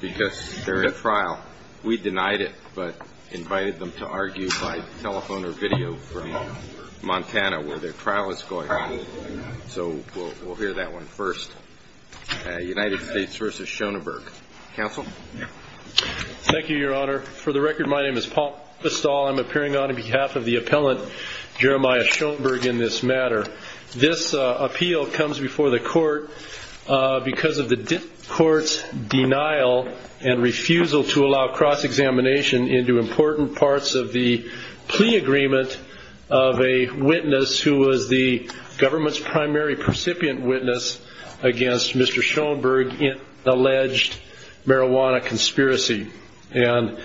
Because they're in trial. We denied it but invited them to argue by telephone or video from Montana where their trial is going on. So we'll hear that one first. United States v. Schonenberg. Counsel? Thank you, Your Honor. For the record, my name is Paul Bistall. I'm appearing on behalf of the appellant, Jeremiah Schonenberg in this matter. This appeal comes before the court because of the court's denial and refusal to allow cross-examination into important parts of the plea agreement of a witness who was the government's primary percipient witness against Mr. Schonenberg in alleged marijuana conspiracy. And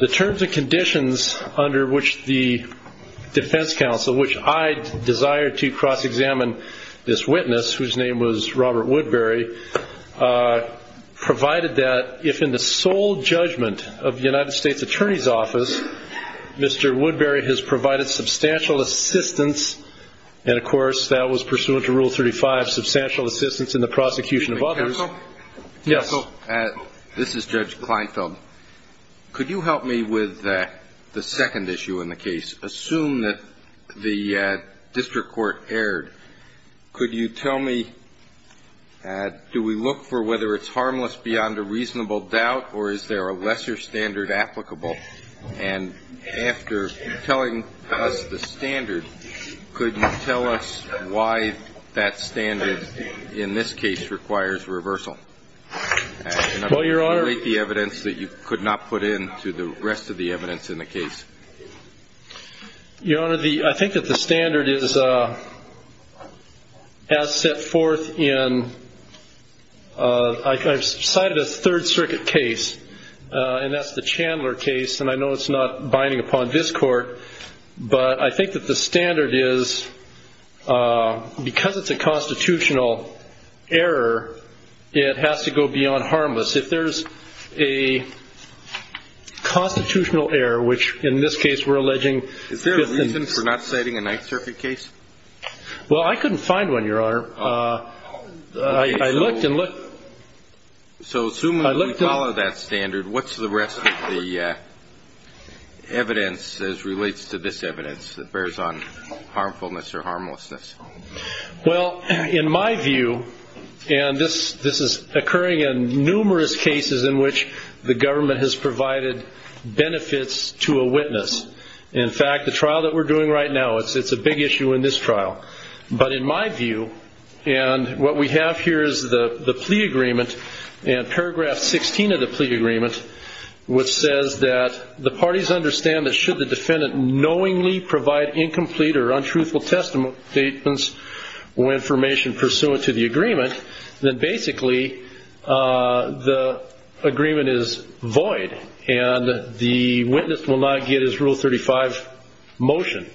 the terms and conditions under which the defense counsel, which I desire to cross-examine this witness, whose name was Robert Woodbury, provided that if in the sole judgment of the United States Attorney's Office, Mr. Woodbury has provided substantial assistance, and of course that was pursuant to Rule 35, substantial assistance in the prosecution of others. Counsel? Yes. This is Judge Kleinfeld. Could you help me with the second issue in the case? Assume that the district court erred. Could you tell me, do we look for whether it's harmless beyond a reasonable doubt or is there a lesser standard applicable? And after telling us the standard, could you tell us why that standard, in this case, requires reversal? Well, Your Honor... Can you relate the evidence that you could not put in to the rest of the evidence in the case? Your Honor, I think that the standard has set forth in... I've cited a Third Circuit case, and that's the Chandler case, and I know it's not binding upon this court, but I think that the standard is, because it's a constitutional error, it has to go beyond harmless. If there's a constitutional error, which in this case we're alleging... Is there a reason for not citing a Ninth Circuit case? Well, I couldn't find one, Your Honor. I looked and looked. So assuming we follow that standard, what's the rest of the evidence as relates to this evidence that bears on harmfulness or harmlessness? Well, in my view, and this is occurring in numerous cases in which the government has provided benefits to a witness. In fact, the trial that we're doing right now, it's a big issue in this trial. But in my view, and what we have here is the plea agreement, and paragraph 16 of the plea agreement, which says that the parties understand that should the defendant knowingly provide incomplete or untruthful statements or information pursuant to the agreement, then basically the agreement is void, and the witness will not get his Rule 35 motion.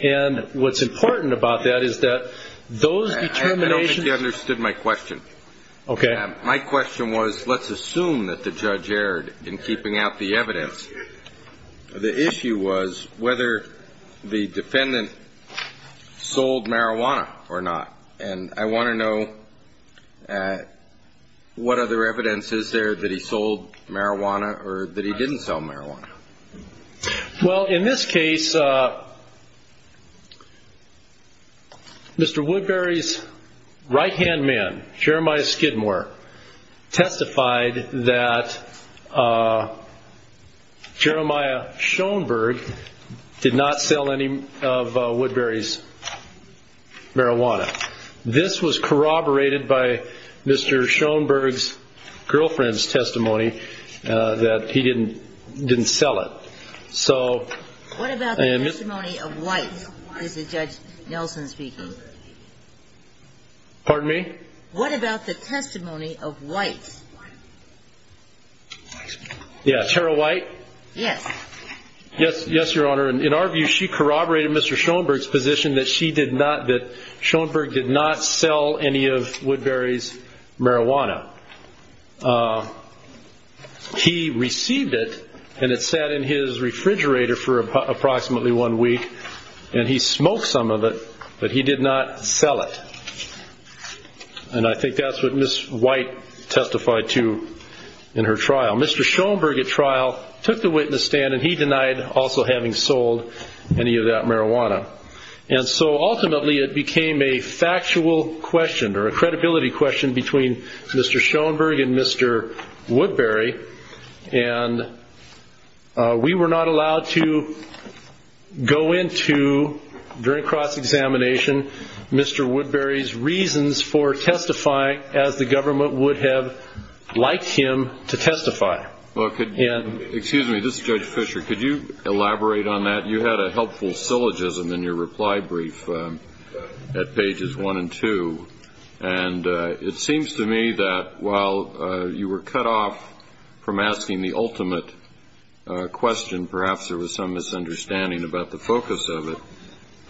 And what's important about that is that those determinations... I don't think you understood my question. Okay. My question was, let's assume that the judge erred in keeping out the evidence. The issue was whether the defendant sold marijuana or not. And I want to know what other evidence is there that he sold marijuana or that he didn't sell marijuana. Well, in this case, Mr. Woodbury's right-hand man, Jeremiah Skidmore, testified that Jeremiah Schoenberg did not sell any of Woodbury's marijuana. This was corroborated by Mr. Schoenberg's girlfriend's testimony that he didn't sell it. So... What about the testimony of White, is Judge Nelson speaking? Pardon me? What about the testimony of White? Yeah, Tara White? Yes. Yes, Your Honor. In our view, she corroborated Mr. Schoenberg's position that Schoenberg did not sell any of Woodbury's marijuana. He received it, and it sat in his refrigerator for approximately one week, and he smoked some of it, but he did not sell it. And I think that's what Ms. White testified to in her trial. Mr. Schoenberg, at trial, took the witness stand, and he denied also having sold any of that marijuana. And so, ultimately, it became a factual question or a credibility question between Mr. Schoenberg and Mr. Woodbury, and we were not allowed to go into, during cross-examination, Mr. Woodbury's reasons for testifying as the government would have liked him to testify. Excuse me. This is Judge Fisher. Could you elaborate on that? You had a helpful syllogism in your reply brief at pages one and two, and it seems to me that while you were cut off from asking the ultimate question, perhaps there was some misunderstanding about the focus of it,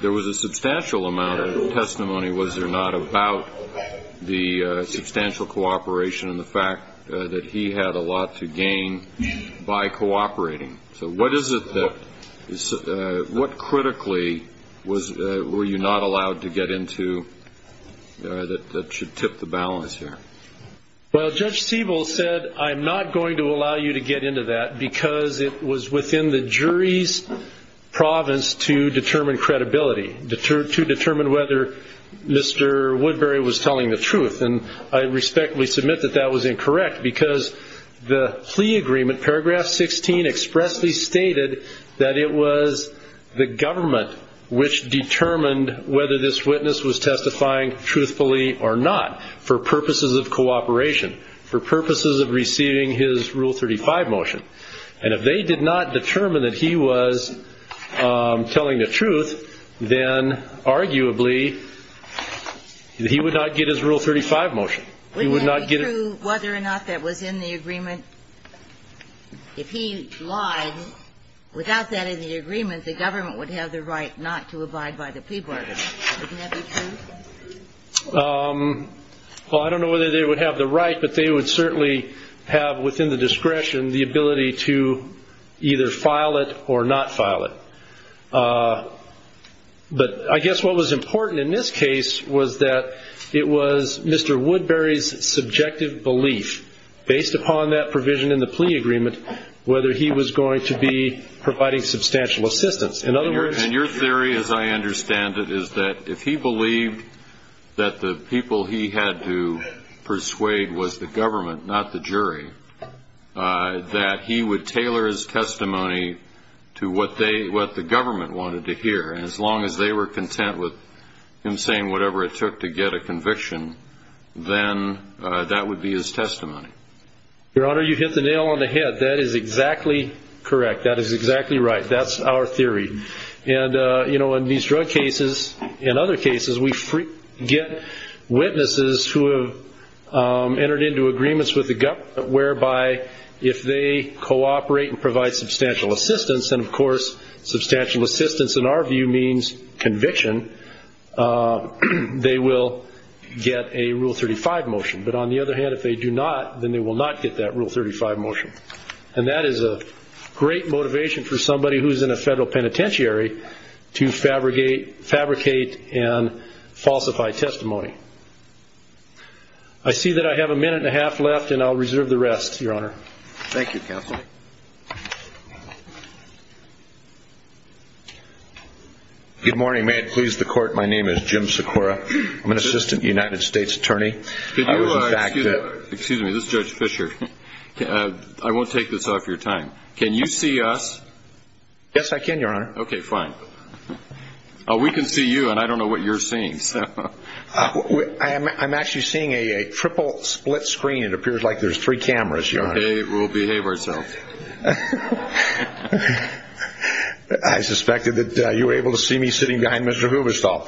there was a substantial amount of testimony, was there not, about the substantial cooperation and the fact that he had a lot to gain by cooperating. So what critically were you not allowed to get into that should tip the balance here? Well, Judge Siebel said, I'm not going to allow you to get into that because it was within the jury's province to determine credibility, to determine whether Mr. Woodbury was telling the truth. And I respectfully submit that that was incorrect because the plea agreement, paragraph 16, expressly stated that it was the government which determined whether this witness was testifying truthfully or not for purposes of cooperation, for purposes of receiving his Rule 35 motion. And if they did not determine that he was telling the truth, then arguably he would not get his Rule 35 motion. Wouldn't that be true whether or not that was in the agreement? If he lied, without that in the agreement, the government would have the right not to abide by the plea bargain. Wouldn't that be true? Well, I don't know whether they would have the right, but they would certainly have within the discretion the ability to either file it or not file it. But I guess what was important in this case was that it was Mr. Woodbury's subjective belief, based upon that provision in the plea agreement, whether he was going to be providing substantial assistance. And your theory, as I understand it, is that if he believed that the people he had to persuade was the government, not the jury, that he would tailor his testimony to what the government wanted to hear. And as long as they were content with him saying whatever it took to get a conviction, then that would be his testimony. Your Honor, you hit the nail on the head. That is exactly correct. That is exactly right. That is our theory. And in these drug cases, in other cases, we get witnesses who have entered into agreements with the government, whereby if they cooperate and provide substantial assistance, and of course substantial assistance in our view means conviction, they will get a Rule 35 motion. But on the other hand, if they do not, then they will not get that Rule 35 motion. And that is a great motivation for somebody who is in a federal penitentiary to fabricate and falsify testimony. I see that I have a minute and a half left, and I'll reserve the rest, Your Honor. Thank you, Counsel. Good morning. May it please the Court, my name is Jim Sikora. I'm an Assistant United States Attorney. Excuse me, this is Judge Fischer. I won't take this off your time. Can you see us? Yes, I can, Your Honor. Okay, fine. We can see you, and I don't know what you're seeing. I'm actually seeing a triple split screen. It appears like there's three cameras, Your Honor. Okay, we'll behave ourselves. I suspected that you were able to see me sitting behind Mr. Huberstall.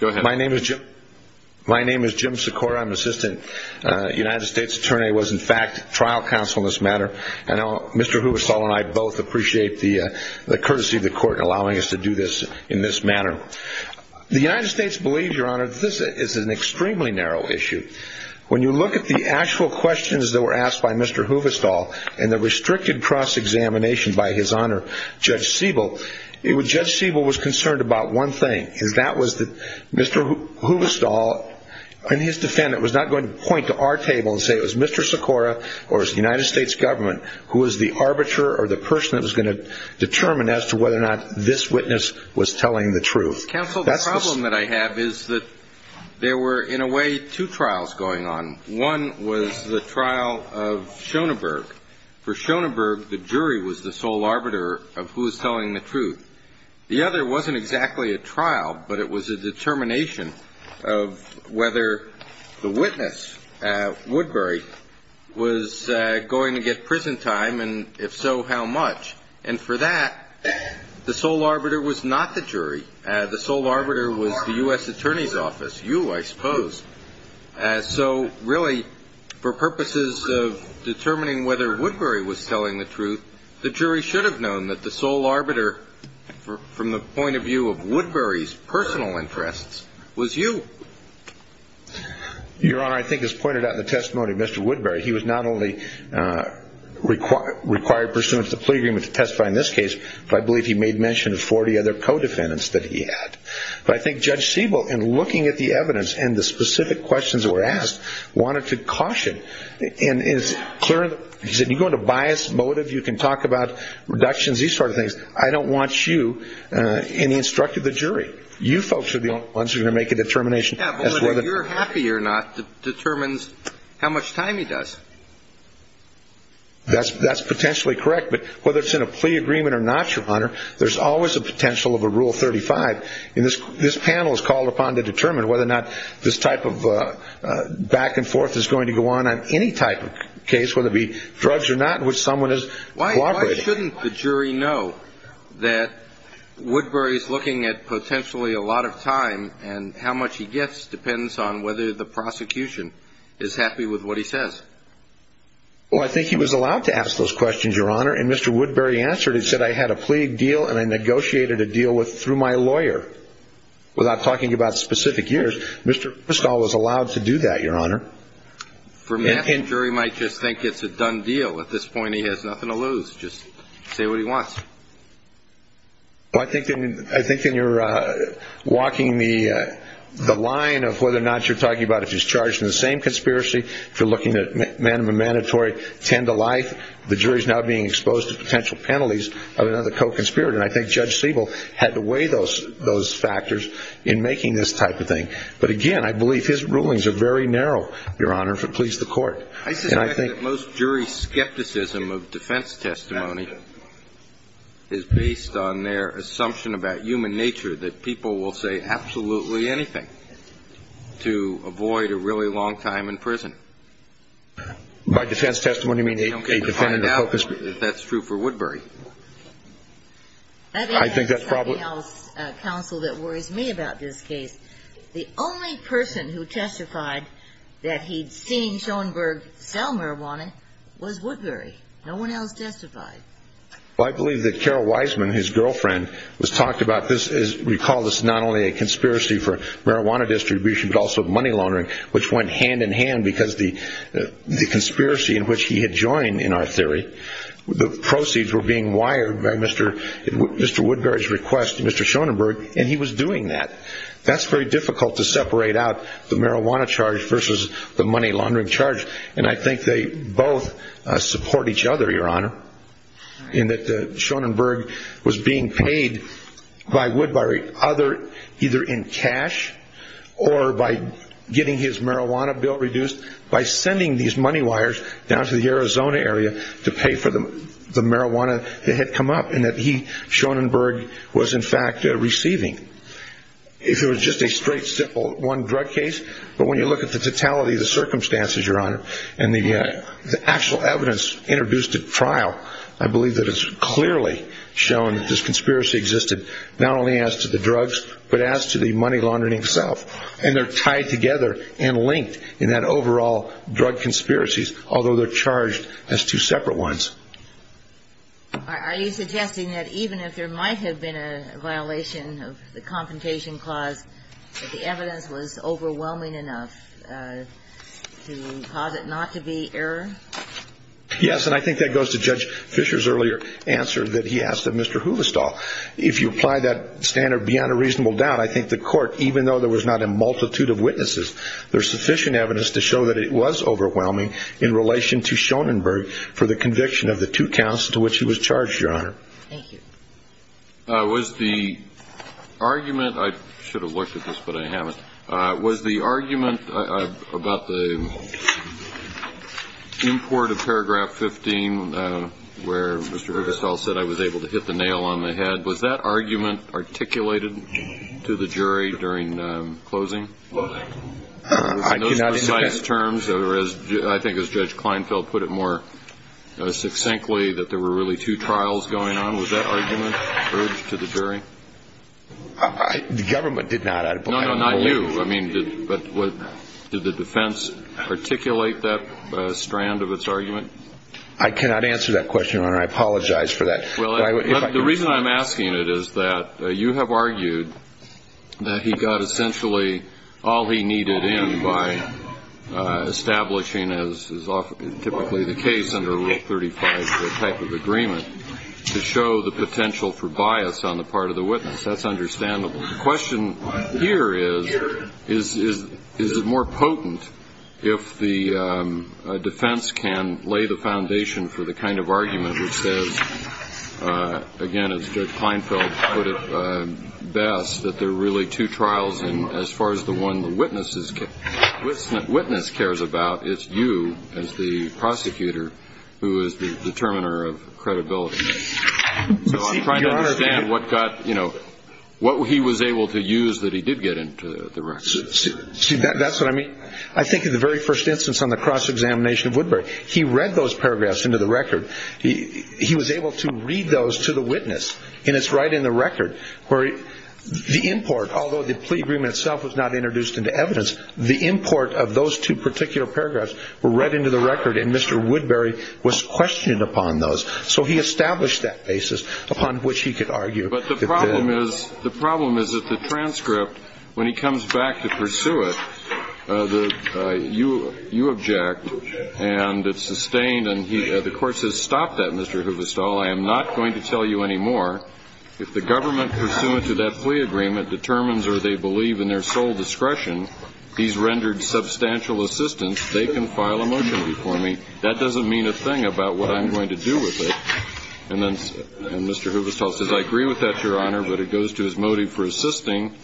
Go ahead. My name is Jim Sikora. I'm Assistant United States Attorney. I was, in fact, trial counsel in this matter. And Mr. Huberstall and I both appreciate the courtesy of the Court allowing us to do this in this manner. The United States believes, Your Honor, that this is an extremely narrow issue. When you look at the actual questions that were asked by Mr. Huberstall and the restricted cross-examination by His Honor, Judge Siebel, Judge Siebel was concerned about one thing, and that was that Mr. Huberstall and his defendant was not going to point to our table and say it was Mr. Sikora or it was the United States government who was the arbiter or the person that was going to determine as to whether or not this witness was telling the truth. Counsel, the problem that I have is that there were, in a way, two trials going on. One was the trial of Schoenberg. For Schoenberg, the jury was the sole arbiter of who was telling the truth. The other wasn't exactly a trial, but it was a determination of whether the witness, Woodbury, was going to get prison time, and if so, how much. And for that, the sole arbiter was not the jury. The sole arbiter was the U.S. Attorney's Office. You, I suppose. So really, for purposes of determining whether Woodbury was telling the truth, the jury should have known that the sole arbiter, from the point of view of Woodbury's personal interests, was you. Your Honor, I think as pointed out in the testimony of Mr. Woodbury, he was not only required pursuant to the plea agreement to testify in this case, but I believe he made mention of 40 other co-defendants that he had. But I think Judge Siebel, in looking at the evidence and the specific questions that were asked, wanted to caution and is clear, he said, you go into bias, motive, you can talk about reductions, these sort of things. I don't want you in the instruct of the jury. You folks are the only ones who are going to make a determination. Yeah, but whether you're happy or not determines how much time he does. That's potentially correct, but whether it's in a plea agreement or not, Your Honor, there's always a potential of a Rule 35, and this panel is called upon to determine whether or not this type of back and forth is going to go on on any type of case, whether it be drugs or not, in which someone is cooperating. Why shouldn't the jury know that Woodbury is looking at potentially a lot of time, and how much he gets depends on whether the prosecution is happy with what he says? Well, I think he was allowed to ask those questions, Your Honor, and Mr. Woodbury answered. He said, I had a plea deal, and I negotiated a deal through my lawyer, without talking about specific years. Mr. Kristol was allowed to do that, Your Honor. A jury might just think it's a done deal. At this point, he has nothing to lose. Just say what he wants. Well, I think then you're walking the line of whether or not you're talking about if he's charged in the same conspiracy, if you're looking at man of a mandatory tend to life, the jury is now being exposed to potential penalties of another co-conspirator, and I think Judge Siebel had to weigh those factors in making this type of thing. But again, I believe his rulings are very narrow, Your Honor, if it pleases the Court. I suspect that most jury skepticism of defense testimony is based on their assumption about human nature, that people will say absolutely anything to avoid a really long time in prison. By defense testimony, you mean a defendant of focus group? That's true for Woodbury. I think that's probably else counsel that worries me about this case. The only person who testified that he'd seen Schoenberg sell marijuana was Woodbury. No one else testified. Well, I believe that Carol Wiseman, his girlfriend, was talking about this. We call this not only a conspiracy for marijuana distribution, but also money laundering, which went hand in hand because the conspiracy in which he had joined, in our theory, the proceeds were being wired by Mr. Woodbury's request to Mr. Schoenberg, and he was doing that. That's very difficult to separate out the marijuana charge versus the money laundering charge, and I think they both support each other, Your Honor, in that Schoenberg was being paid by Woodbury either in cash or by getting his marijuana bill reduced by sending these money wires down to the Arizona area to pay for the marijuana that had come up, and that Schoenberg was, in fact, receiving. If it was just a straight simple one drug case, but when you look at the totality of the circumstances, Your Honor, and the actual evidence introduced at trial, I believe that it's clearly shown that this conspiracy existed not only as to the drugs, but as to the money laundering itself, and they're tied together and linked in that overall drug conspiracies, although they're charged as two separate ones. Are you suggesting that even if there might have been a violation of the Confrontation Clause, that the evidence was overwhelming enough to cause it not to be error? Yes, and I think that goes to Judge Fischer's earlier answer that he asked of Mr. Huvestal. If you apply that standard beyond a reasonable doubt, I think the Court, even though there was not a multitude of witnesses, there's sufficient evidence to show that it was overwhelming in relation to Schoenberg for the conviction of the two counts to which he was charged, Your Honor. Thank you. Was the argument – I should have looked at this, but I haven't. Was the argument about the import of paragraph 15 where Mr. Huvestal said, I was able to hit the nail on the head, was that argument articulated to the jury during closing? In those precise terms, or I think as Judge Kleinfeld put it more succinctly, that there were really two trials going on, was that argument urged to the jury? The government did not. No, no, not you. I mean, did the defense articulate that strand of its argument? I cannot answer that question, Your Honor. I apologize for that. Well, the reason I'm asking it is that you have argued that he got essentially all he needed in by establishing, as is typically the case under Rule 35, the type of agreement to show the potential for bias on the part of the witness. That's understandable. The question here is, is it more potent if the defense can lay the foundation for the kind of argument which says, again, as Judge Kleinfeld put it best, that there are really two trials, and as far as the one the witness cares about, it's you as the prosecutor who is the determiner of credibility. So I'm trying to understand what he was able to use that he did get into the record. See, that's what I mean. I think in the very first instance on the cross-examination of Woodbury, he read those paragraphs into the record. He was able to read those to the witness. And it's right in the record where the import, although the plea agreement itself was not introduced into evidence, the import of those two particular paragraphs were read into the record, and Mr. Woodbury was questioning upon those. So he established that basis upon which he could argue. But the problem is that the transcript, when he comes back to pursue it, you object, and it's sustained. And the Court says, stop that, Mr. Huvestal. I am not going to tell you any more. If the government pursuant to that plea agreement determines or they believe in their sole discretion he's rendered substantial assistance, they can file a motion before me. That doesn't mean a thing about what I'm going to do with it. And then Mr. Huvestal says, I agree with that, Your Honor, but it goes to his motive for assisting.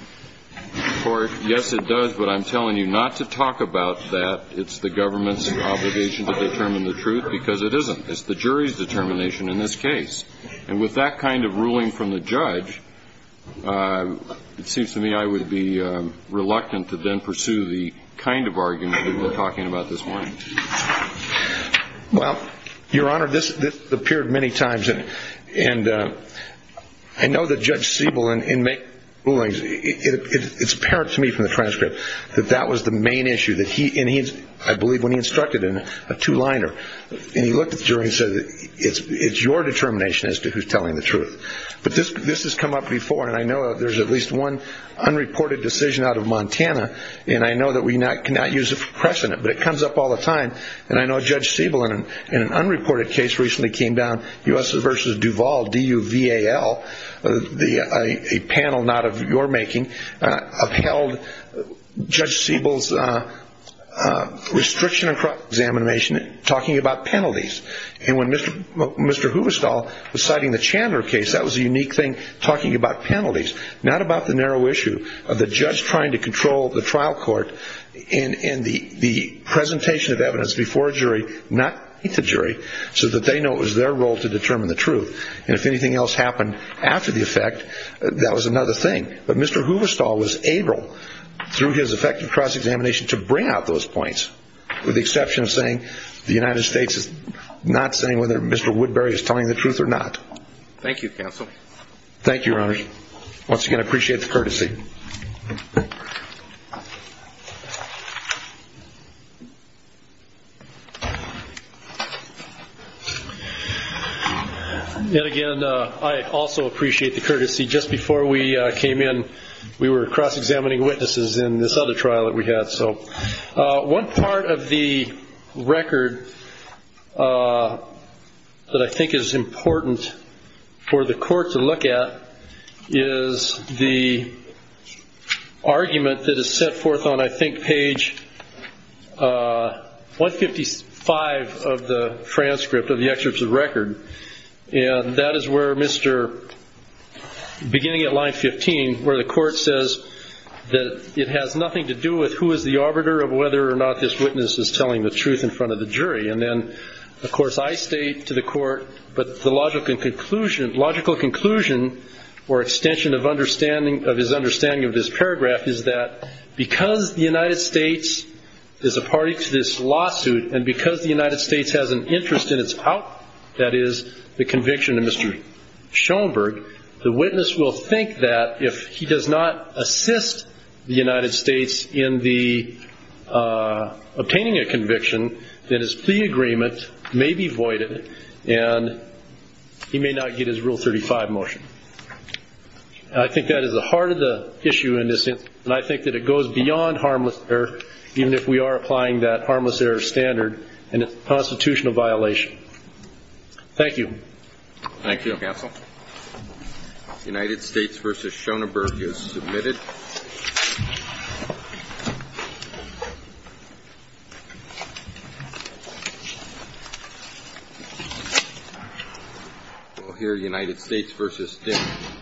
Yes, it does, but I'm telling you not to talk about that. It's the government's obligation to determine the truth because it isn't. It's the jury's determination in this case. And with that kind of ruling from the judge, it seems to me I would be reluctant to then pursue the kind of argument that we've been talking about this morning. Well, Your Honor, this appeared many times. And I know that Judge Siebel in many rulings, it's apparent to me from the transcript that that was the main issue, and I believe when he instructed in a two-liner, and he looked at the jury and said, it's your determination as to who's telling the truth. But this has come up before, and I know there's at least one unreported decision out of Montana, and I know that we cannot use it for precedent, but it comes up all the time. And I know Judge Siebel in an unreported case recently came down. U.S. v. Duval, D-U-V-A-L, a panel not of your making, upheld Judge Siebel's restriction on cross-examination talking about penalties. And when Mr. Huvestal was citing the Chandler case, that was a unique thing, talking about penalties, not about the narrow issue of the judge trying to control the trial court and the presentation of evidence before a jury, not meet the jury, so that they know it was their role to determine the truth. And if anything else happened after the effect, that was another thing. But Mr. Huvestal was able, through his effective cross-examination, to bring out those points, with the exception of saying the United States is not saying whether Mr. Woodbury is telling the truth or not. Thank you, counsel. Thank you, Your Honor. Once again, I appreciate the courtesy. And again, I also appreciate the courtesy. Just before we came in, we were cross-examining witnesses in this other trial that we had. So one part of the record that I think is important for the court to look at is the argument that is set forth on, I think, page 155 of the transcript of the excerpt of the record. And that is where Mr. beginning at line 15, where the court says that it has nothing to do with who is the arbiter of whether or not this witness is telling the truth in front of the jury. And then, of course, I state to the court, but the logical conclusion or extension of his understanding of this paragraph is that because the United States is a party to this lawsuit and because the United States has an interest in its out, that is, the conviction of Mr. Schoenberg, the witness will think that if he does not assist the United States in obtaining a conviction, that his plea agreement may be voided and he may not get his Rule 35 motion. I think that is the heart of the issue in this instance. And I think that it goes beyond harmless error, even if we are applying that harmless error standard, and it's a constitutional violation. Thank you. Thank you, counsel. United States v. Schoenberg is submitted. United States v. Schoenberg is submitted. Thank you.